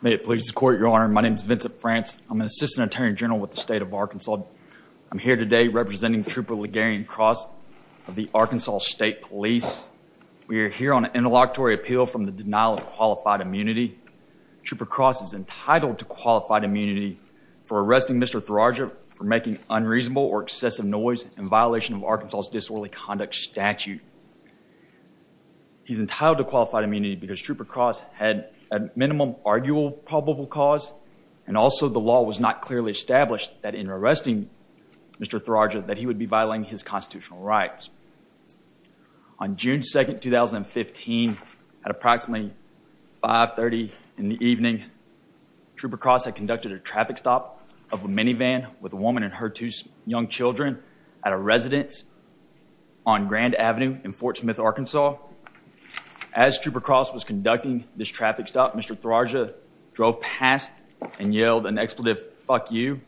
May it please the court, your honor, my name is Vincent France. I'm an assistant attorney general with the state of Arkansas. I'm here today representing Trooper Legarian Cross of the Arkansas State Police. We are here on an interlocutory appeal from the denial of qualified immunity. Trooper Cross is entitled to qualified immunity for arresting Mr. Thurairajah for making unreasonable or excessive noise in violation of Arkansas's disorderly conduct statute. He's entitled to qualified immunity because Trooper Cross had a minimum arguable probable cause and also the law was not clearly established that in arresting Mr. Thurairajah that he would be violating his constitutional rights. On June 2nd 2015 at approximately 530 in the evening Trooper Cross had conducted a traffic stop of a minivan with a woman and her young children at a residence on Grand Avenue in Fort Smith, Arkansas. As Trooper Cross was conducting this traffic stop Mr. Thurairajah drove past and yelled an expletive, fuck you.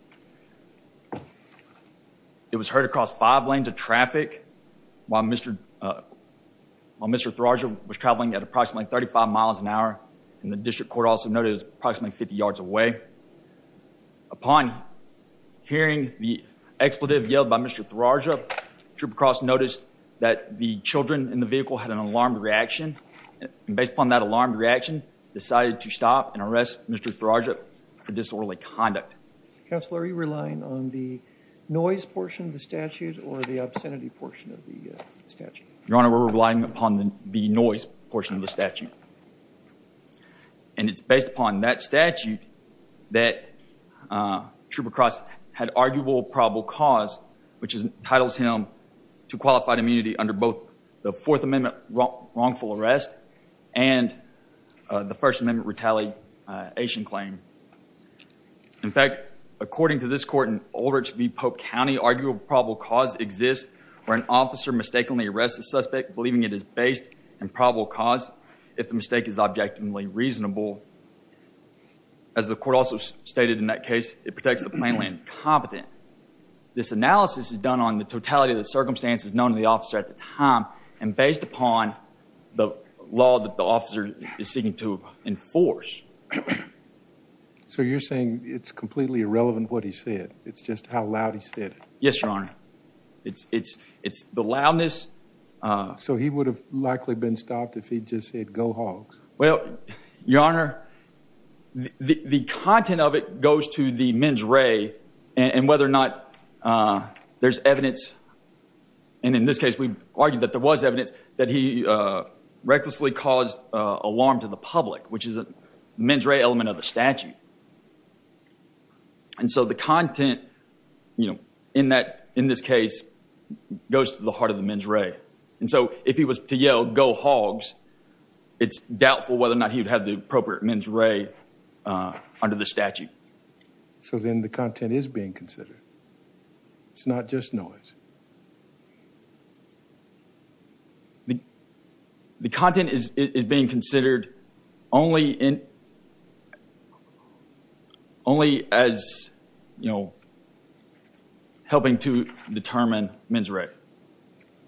It was heard across five lanes of traffic while Mr. Thurairajah was traveling at approximately 35 miles an hour and the expletive yelled by Mr. Thurairajah. Trooper Cross noticed that the children in the vehicle had an alarmed reaction and based upon that alarmed reaction decided to stop and arrest Mr. Thurairajah for disorderly conduct. Counselor are you relying on the noise portion of the statute or the obscenity portion of the statute? Your honor we're relying upon the noise portion of the statute and it's based upon that statute that Trooper Cross had arguable probable cause which entitles him to qualified immunity under both the Fourth Amendment wrongful arrest and the First Amendment retaliation claim. In fact according to this court in Aldrich v. Pope County arguable probable cause exists where an officer mistakenly arrests a suspect believing it is based on the totality of the circumstances known to the officer at the time and based upon the law that the officer is seeking to enforce. So you're saying it's completely irrelevant what he said it's just how loud he said it. Yes your honor. It's it's it's the loudness. So he would have likely been stopped if he just said go hogs. Well your honor the content of it goes to the mens re and whether or not there's evidence and in this case we argued that there was evidence that he recklessly caused alarm to the public which is a mens re element of the this case goes to the heart of the mens re and so if he was to yell go hogs it's doubtful whether or not he would have the appropriate mens re under the statute. So then the content is being considered it's not just noise. The determine mens re.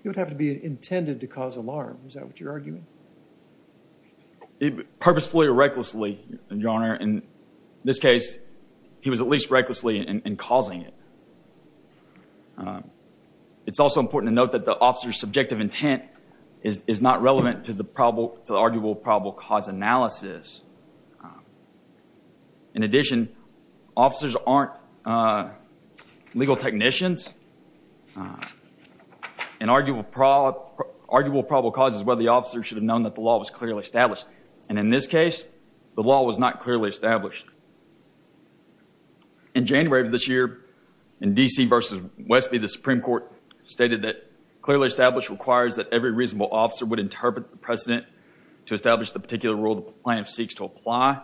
He would have to be intended to cause alarm. Is that what you're arguing? Purposefully or recklessly your honor in this case he was at least recklessly in causing it. It's also important to note that the officer's subjective intent is not relevant to the probable to the arguable probable cause analysis. In addition officers aren't legal technicians. An arguable probable cause is whether the officer should have known that the law was clearly established and in this case the law was not clearly established. In January of this year in DC versus Westby the Supreme Court stated that clearly established requires that every reasonable officer would interpret the precedent to establish the particular rule the plaintiff seeks to apply.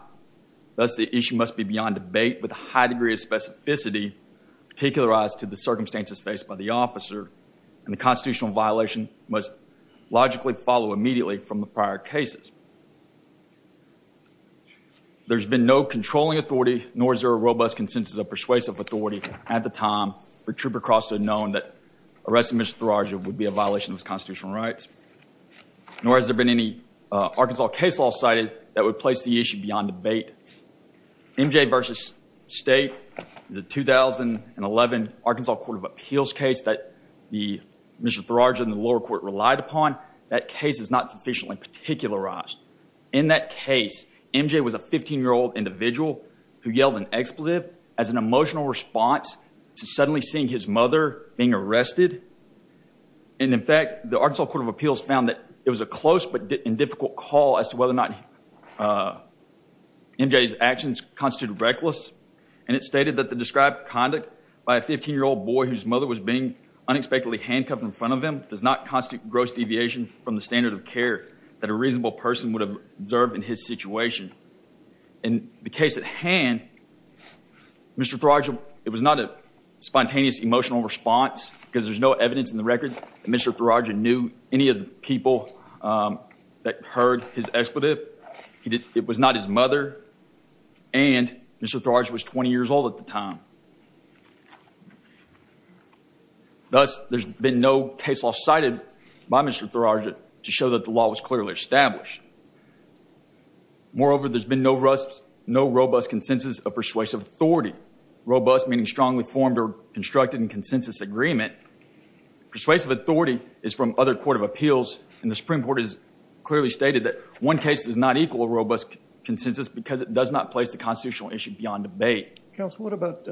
Thus the issue must be beyond debate with a high degree of specificity particularized to the circumstances faced by the officer and the constitutional violation must logically follow immediately from the prior cases. There's been no controlling authority nor is there a robust consensus of persuasive authority at the time for trooper Crosta known that arresting Mr. Thurage would be a violation of constitutional rights. Nor has there been any Arkansas case law cited that would place the issue beyond debate. MJ versus State is a 2011 Arkansas Court of Appeals case that the Mr. Thurage and the lower court relied upon. That case is not sufficiently particularized. In that case MJ was a 15 year old individual who yelled an expletive as an emotional response to suddenly seeing his mother being arrested and in fact the Arkansas Court of Appeals found that it was a close but MJ's actions constituted reckless and it stated that the described conduct by a 15 year old boy whose mother was being unexpectedly handcuffed in front of him does not constitute gross deviation from the standard of care that a reasonable person would have observed in his situation. In the case at hand Mr. Thurage it was not a spontaneous emotional response because there's no evidence in the record that Mr. Thurage knew any of the people that heard his expletive. It was not his mother and Mr. Thurage was 20 years old at the time. Thus there's been no case law cited by Mr. Thurage to show that the law was clearly established. Moreover there's been no robust consensus of persuasive authority. Robust meaning strongly formed or constructed in consensus agreement. Persuasive authority is from other Court of Appeals and the Supreme Court has clearly stated that one case does not equal a robust consensus because it does not place the constitutional issue beyond debate. Counsel what about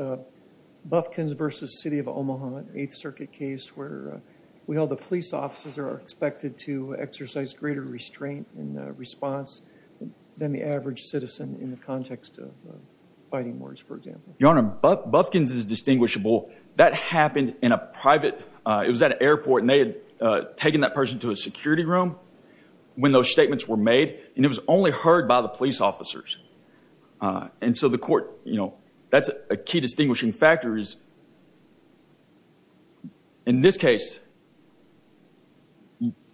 Bufkins versus City of Omaha in the Eighth Circuit case where we held the police officers are expected to exercise greater restraint and response than the average citizen in the context of fighting words for example. Your Honor, Bufkins is distinguishable. That person to a security room when those statements were made and it was only heard by the police officers and so the court you know that's a key distinguishing factor is in this case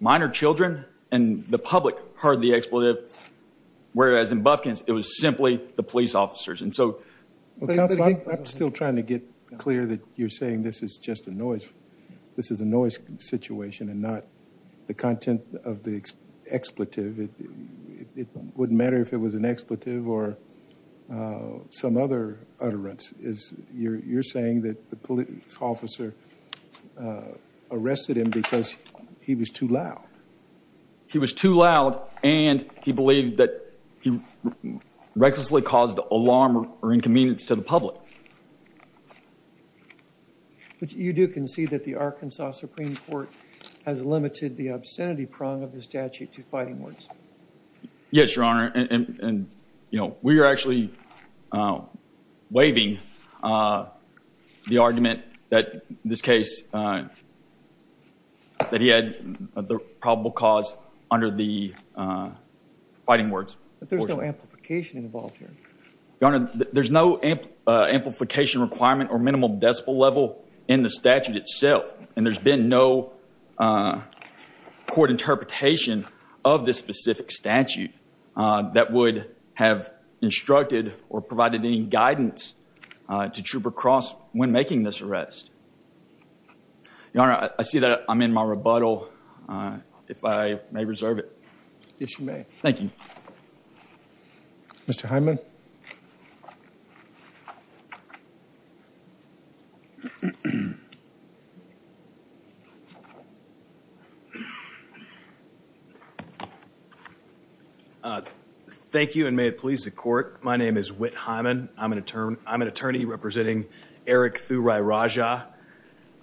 minor children and the public heard the expletive whereas in Bufkins it was simply the police officers and so I'm still trying to get clear that you're saying this is just a noise this is a noise situation and not the content of the expletive it wouldn't matter if it was an expletive or some other utterance is you're saying that the police officer arrested him because he was too loud. He was too loud and he believed that he recklessly caused alarm or inconvenience to the public. But you do concede that the Arkansas Supreme Court has limited the obscenity prong of the statute to fighting words. Yes, Your Honor and you know we are actually waiving the argument that this case that he had the probable cause under the fighting words. But there's no amplification involved here. Your Honor, there's no amplification requirement or minimal decibel level in the statute itself and there's been no court interpretation of this specific statute that would have instructed or provided any guidance to Trooper Cross when making this arrest. Your Honor, I see that I'm in my rebuttal if I may reserve it. Yes, you may. Thank you. Mr. Hyman. Thank you and may it please the court. My name is Whit Hyman. I'm an attorney representing Eric Thurai Rajah.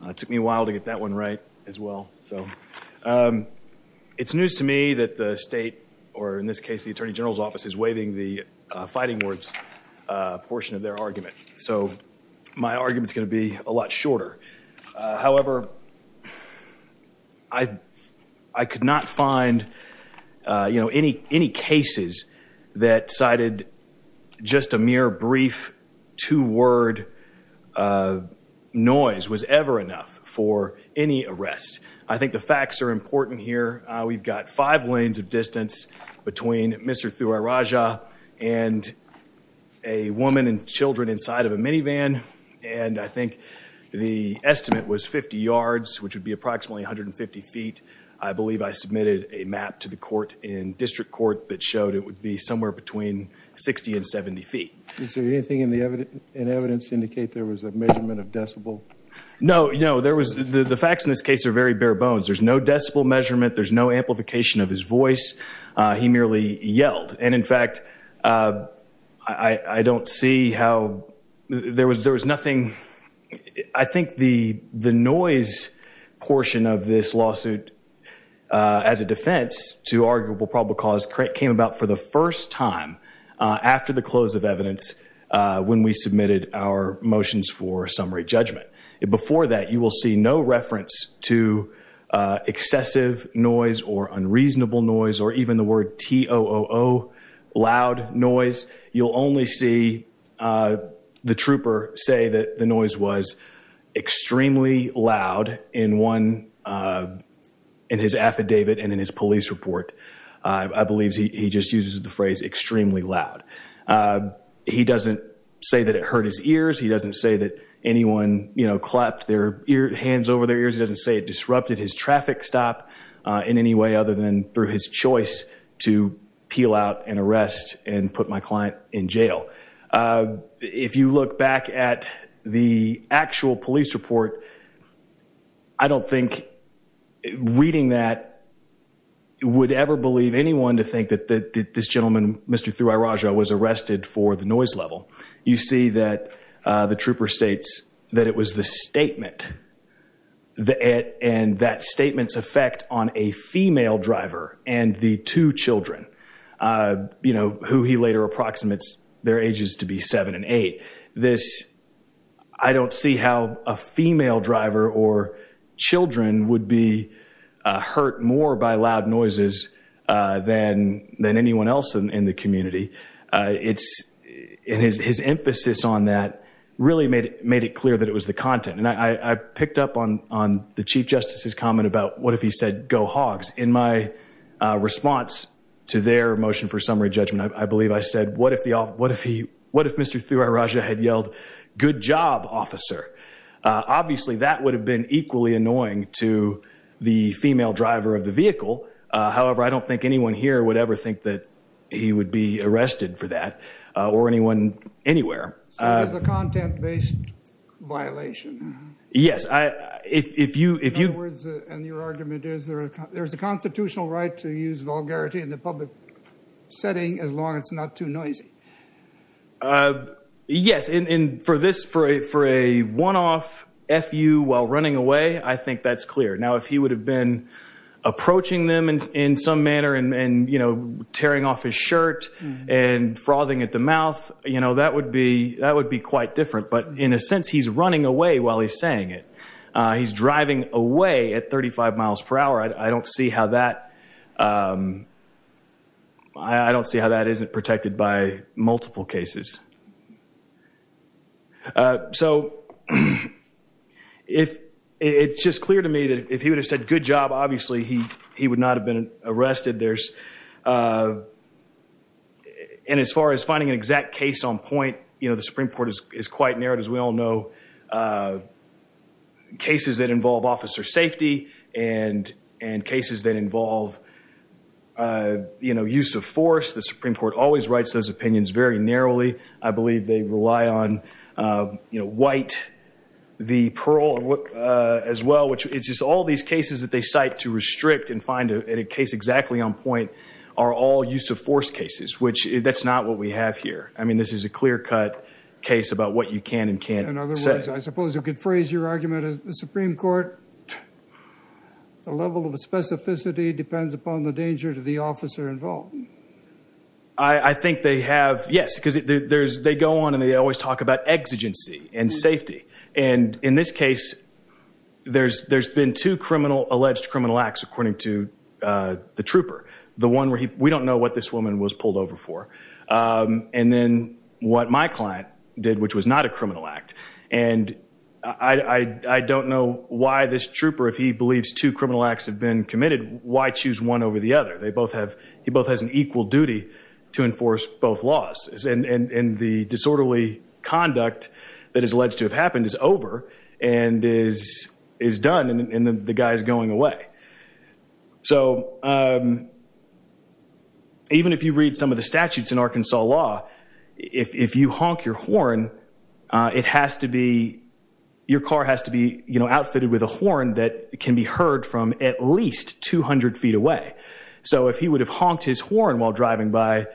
It took me a while to get that one right as well. So it's news to me that the state or in this case the Attorney Ward's portion of their argument. So my argument is going to be a lot shorter. However, I could not find you know any any cases that cited just a mere brief two-word noise was ever enough for any arrest. I think the facts are important here. We've got five lanes of distance between Mr. Thurai Rajah and a woman and children inside of a minivan and I think the estimate was 50 yards which would be approximately 150 feet. I believe I submitted a map to the court in District Court that showed it would be somewhere between 60 and 70 feet. Is there anything in the evidence in evidence indicate there was a measurement of decibel? No, you know there was the the facts in this case are very bare bones. There's no decibel measurement. There's no amplification of his voice. He merely yelled and in fact I I don't see how there was there was nothing. I think the the noise portion of this lawsuit as a defense to arguable probable cause came about for the first time after the close of evidence when we submitted our motions for summary judgment. Before that you will see no reference to excessive noise or unreasonable noise or even the word T-O-O-O loud noise. You'll only see the trooper say that the noise was extremely loud in one in his affidavit and in his police report. I believe he just uses the phrase extremely loud. He doesn't say that it hurt his ears. He doesn't say that anyone you know clapped their hands over their ears. He doesn't say it disrupted his traffic stop in any way other than through his choice to peel out and arrest and put my client in jail. If you look back at the actual police report, I don't think reading that would ever believe anyone to think that that this gentleman Mr. Thurairaja was arrested for the noise level. You see that the trooper states that it was the statement that and that statements effect on a female driver and the two children you know who he later approximates their ages to be seven and eight. This I don't see how a female driver or children would be hurt more by loud noises than than anyone else in the community. It's in his his emphasis on that really made it made it clear that it was the content and I picked up on on the Chief Justice's comment about what if he said go hogs. In my response to their motion for summary judgment, I believe I said what if the off what if he what if Mr. Thurairaja had yelled good job officer. Obviously that would have been equally annoying to the female driver of the vehicle. However, I don't think anyone here would ever think that he would be arrested for that or anyone anywhere. So it was a content-based violation? Yes, I if you if you... In other words, and your argument is there's a constitutional right to use vulgarity in the public setting as long as it's not too noisy. Yes, and for this for a for a one-off FU while running away I think that's clear. Now if he would have been approaching them and in some manner and and you know tearing off his shirt and frothing at the mouth you know that would be that would be quite different but in a sense he's running away while he's saying it. He's driving away at 35 miles per hour. I don't see how that I don't see how that isn't protected by multiple cases. So if it's just clear to me that if he would have said good job obviously he he would not have been arrested. There's and as far as finding an exact case on point you know the Supreme Court is quite narrowed as we all know. Cases that involve officer safety and and cases that involve you know use of force the Supreme Court always writes those opinions very narrowly. I believe they rely on you know White v. Pearl as well which it's just all these cases that they cite to restrict and find a case exactly on point are all use of force cases which that's not what we have here. I mean this is a clear-cut case about what you can and can't say. In other words I suppose you could phrase your argument as the Supreme Court the level of specificity depends upon the danger to the officer involved. I think they have yes because there's they go on and they always talk about exigency and safety and in this case there's there's been two criminal alleged criminal acts according to the trooper. The one where he we don't know what this woman was pulled over for and then what my client did which was not a criminal act and I I don't know why this trooper if he believes two criminal acts have been committed why choose one over the other. They both have he both has an equal duty to enforce both laws and and the disorderly conduct that is alleged to have happened is over and is is done and the guy is going away. So even if you read some of the statutes in Arkansas law if you honk your horn it has to be your car has to be you know outfitted with a horn that can be heard from at least 200 feet away. So if he would have horn while driving by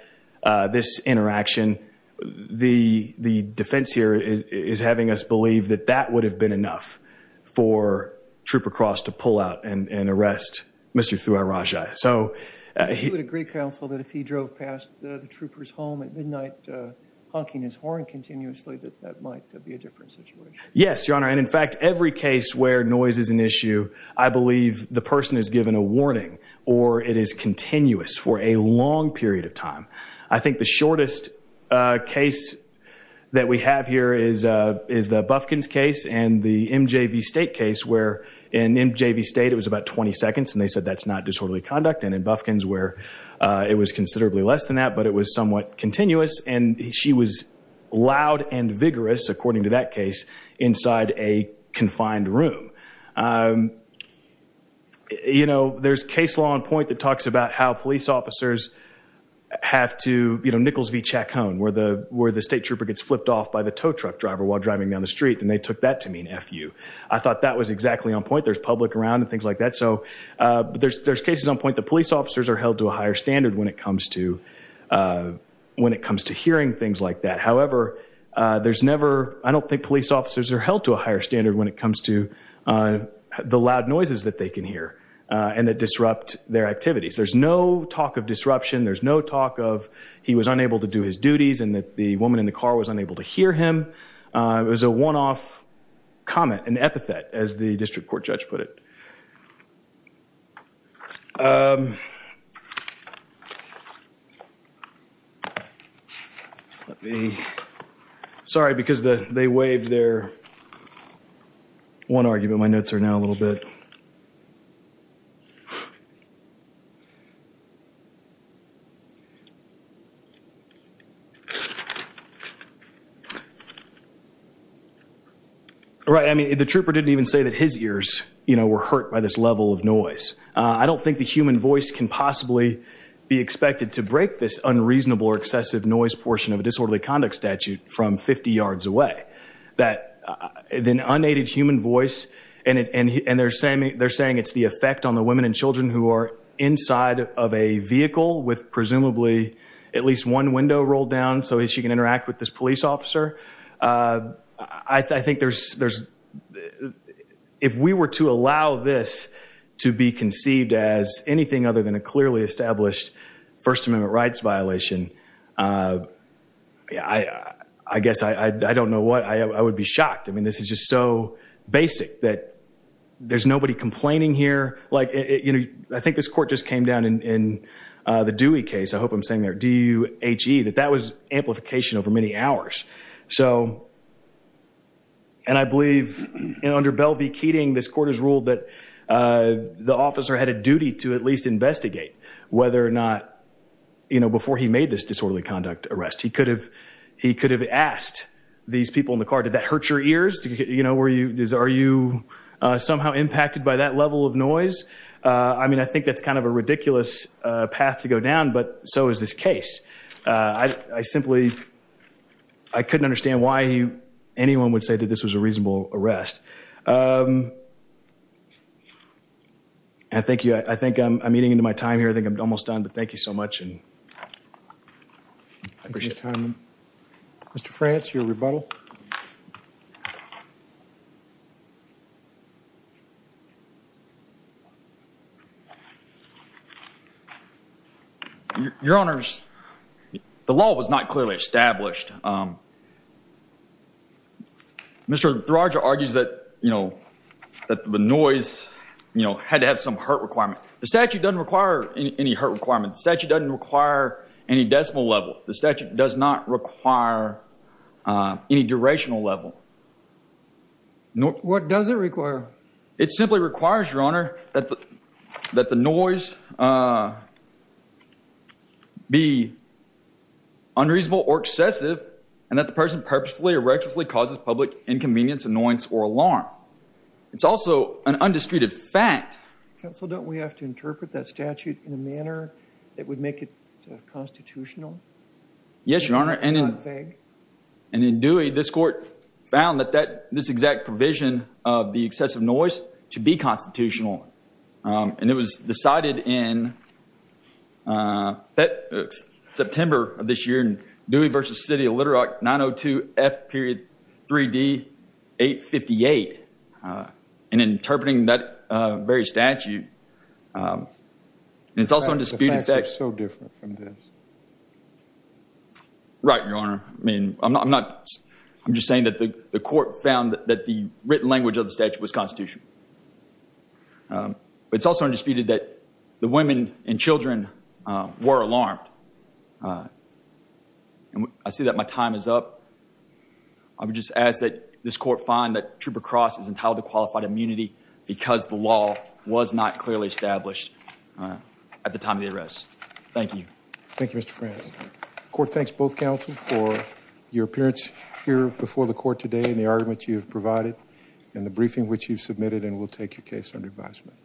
this interaction the the defense here is having us believe that that would have been enough for Trooper Cross to pull out and and arrest Mr. Thurajai. So he would agree counsel that if he drove past the troopers home at midnight honking his horn continuously that that might be a different situation. Yes your honor and in fact every case where noise is an long period of time. I think the shortest case that we have here is is the Bufkins case and the MJV State case where in MJV State it was about 20 seconds and they said that's not disorderly conduct and in Bufkins where it was considerably less than that but it was somewhat continuous and she was loud and vigorous according to that case inside a confined room. You know there's case law on point that talks about how police officers have to you know Nichols v. Chacon where the where the state trooper gets flipped off by the tow truck driver while driving down the street and they took that to mean F you. I thought that was exactly on point there's public around and things like that so but there's there's cases on point the police officers are held to a higher standard when it comes to when it comes to hearing things like that. However there's never I don't think police officers are held to a higher standard when it comes to the loud noises that they can hear and that disrupt their activities. There's no talk of disruption there's no talk of he was unable to do his duties and that the woman in the car was unable to hear him. It was a one-off comment an epithet as the district court judge put it. Sorry because the they one argument my notes are now a little bit. Right I mean the trooper didn't even say that his ears you know were hurt by this level of noise. I don't think the human voice can possibly be expected to break this unreasonable or excessive noise portion of a disorderly conduct statute from 50 yards away. That then unaided human voice and and they're saying they're saying it's the effect on the women and children who are inside of a vehicle with presumably at least one window rolled down so as you can interact with this police officer. I think there's there's if we were to allow this to be conceived as anything other than a clearly established First I guess I I don't know what I would be shocked I mean this is just so basic that there's nobody complaining here like you know I think this court just came down in the Dewey case I hope I'm saying there DUHE that that was amplification over many hours. So and I believe under Belle v Keating this court has ruled that the officer had a duty to at least investigate whether or you know before he made this disorderly conduct arrest he could have he could have asked these people in the car did that hurt your ears you know were you are you somehow impacted by that level of noise. I mean I think that's kind of a ridiculous path to go down but so is this case. I simply I couldn't understand why anyone would say that this was a reasonable arrest. I thank you I think I'm eating into my time here I think I'm almost done but thank you so much and I appreciate your time. Mr. France your rebuttal. Your Honor's the law was not clearly established. Mr. Durage argues that you The statute doesn't require any hurt requirement. The statute doesn't require any decimal level. The statute does not require any durational level. What does it require? It simply requires your honor that the that the noise be unreasonable or excessive and that the person purposefully or recklessly causes public inconvenience annoyance or alarm. It's also an undisputed fact. Counsel don't we have to interpret that statute in a manner that would make it constitutional? Yes your honor and in Dewey this court found that that this exact provision of the excessive noise to be constitutional and it was decided in that September of this year in Dewey versus City of Little Rock 902 F period 3d 858 and interpreting that very statute and it's also undisputed. The facts are so different from this. Right your honor I mean I'm not I'm just saying that the court found that the written language of the statute was constitutional but it's also undisputed that the women and children were alarmed and I see that my time is up. I would just ask that this court find that Trooper Cross is entitled to qualified immunity because the law was not clearly established at the time of the arrest. Thank you. Thank You Mr. France. The court thanks both counsel for your appearance here before the court today and the argument you have provided in the briefing which you've submitted and we'll take your case under advisement.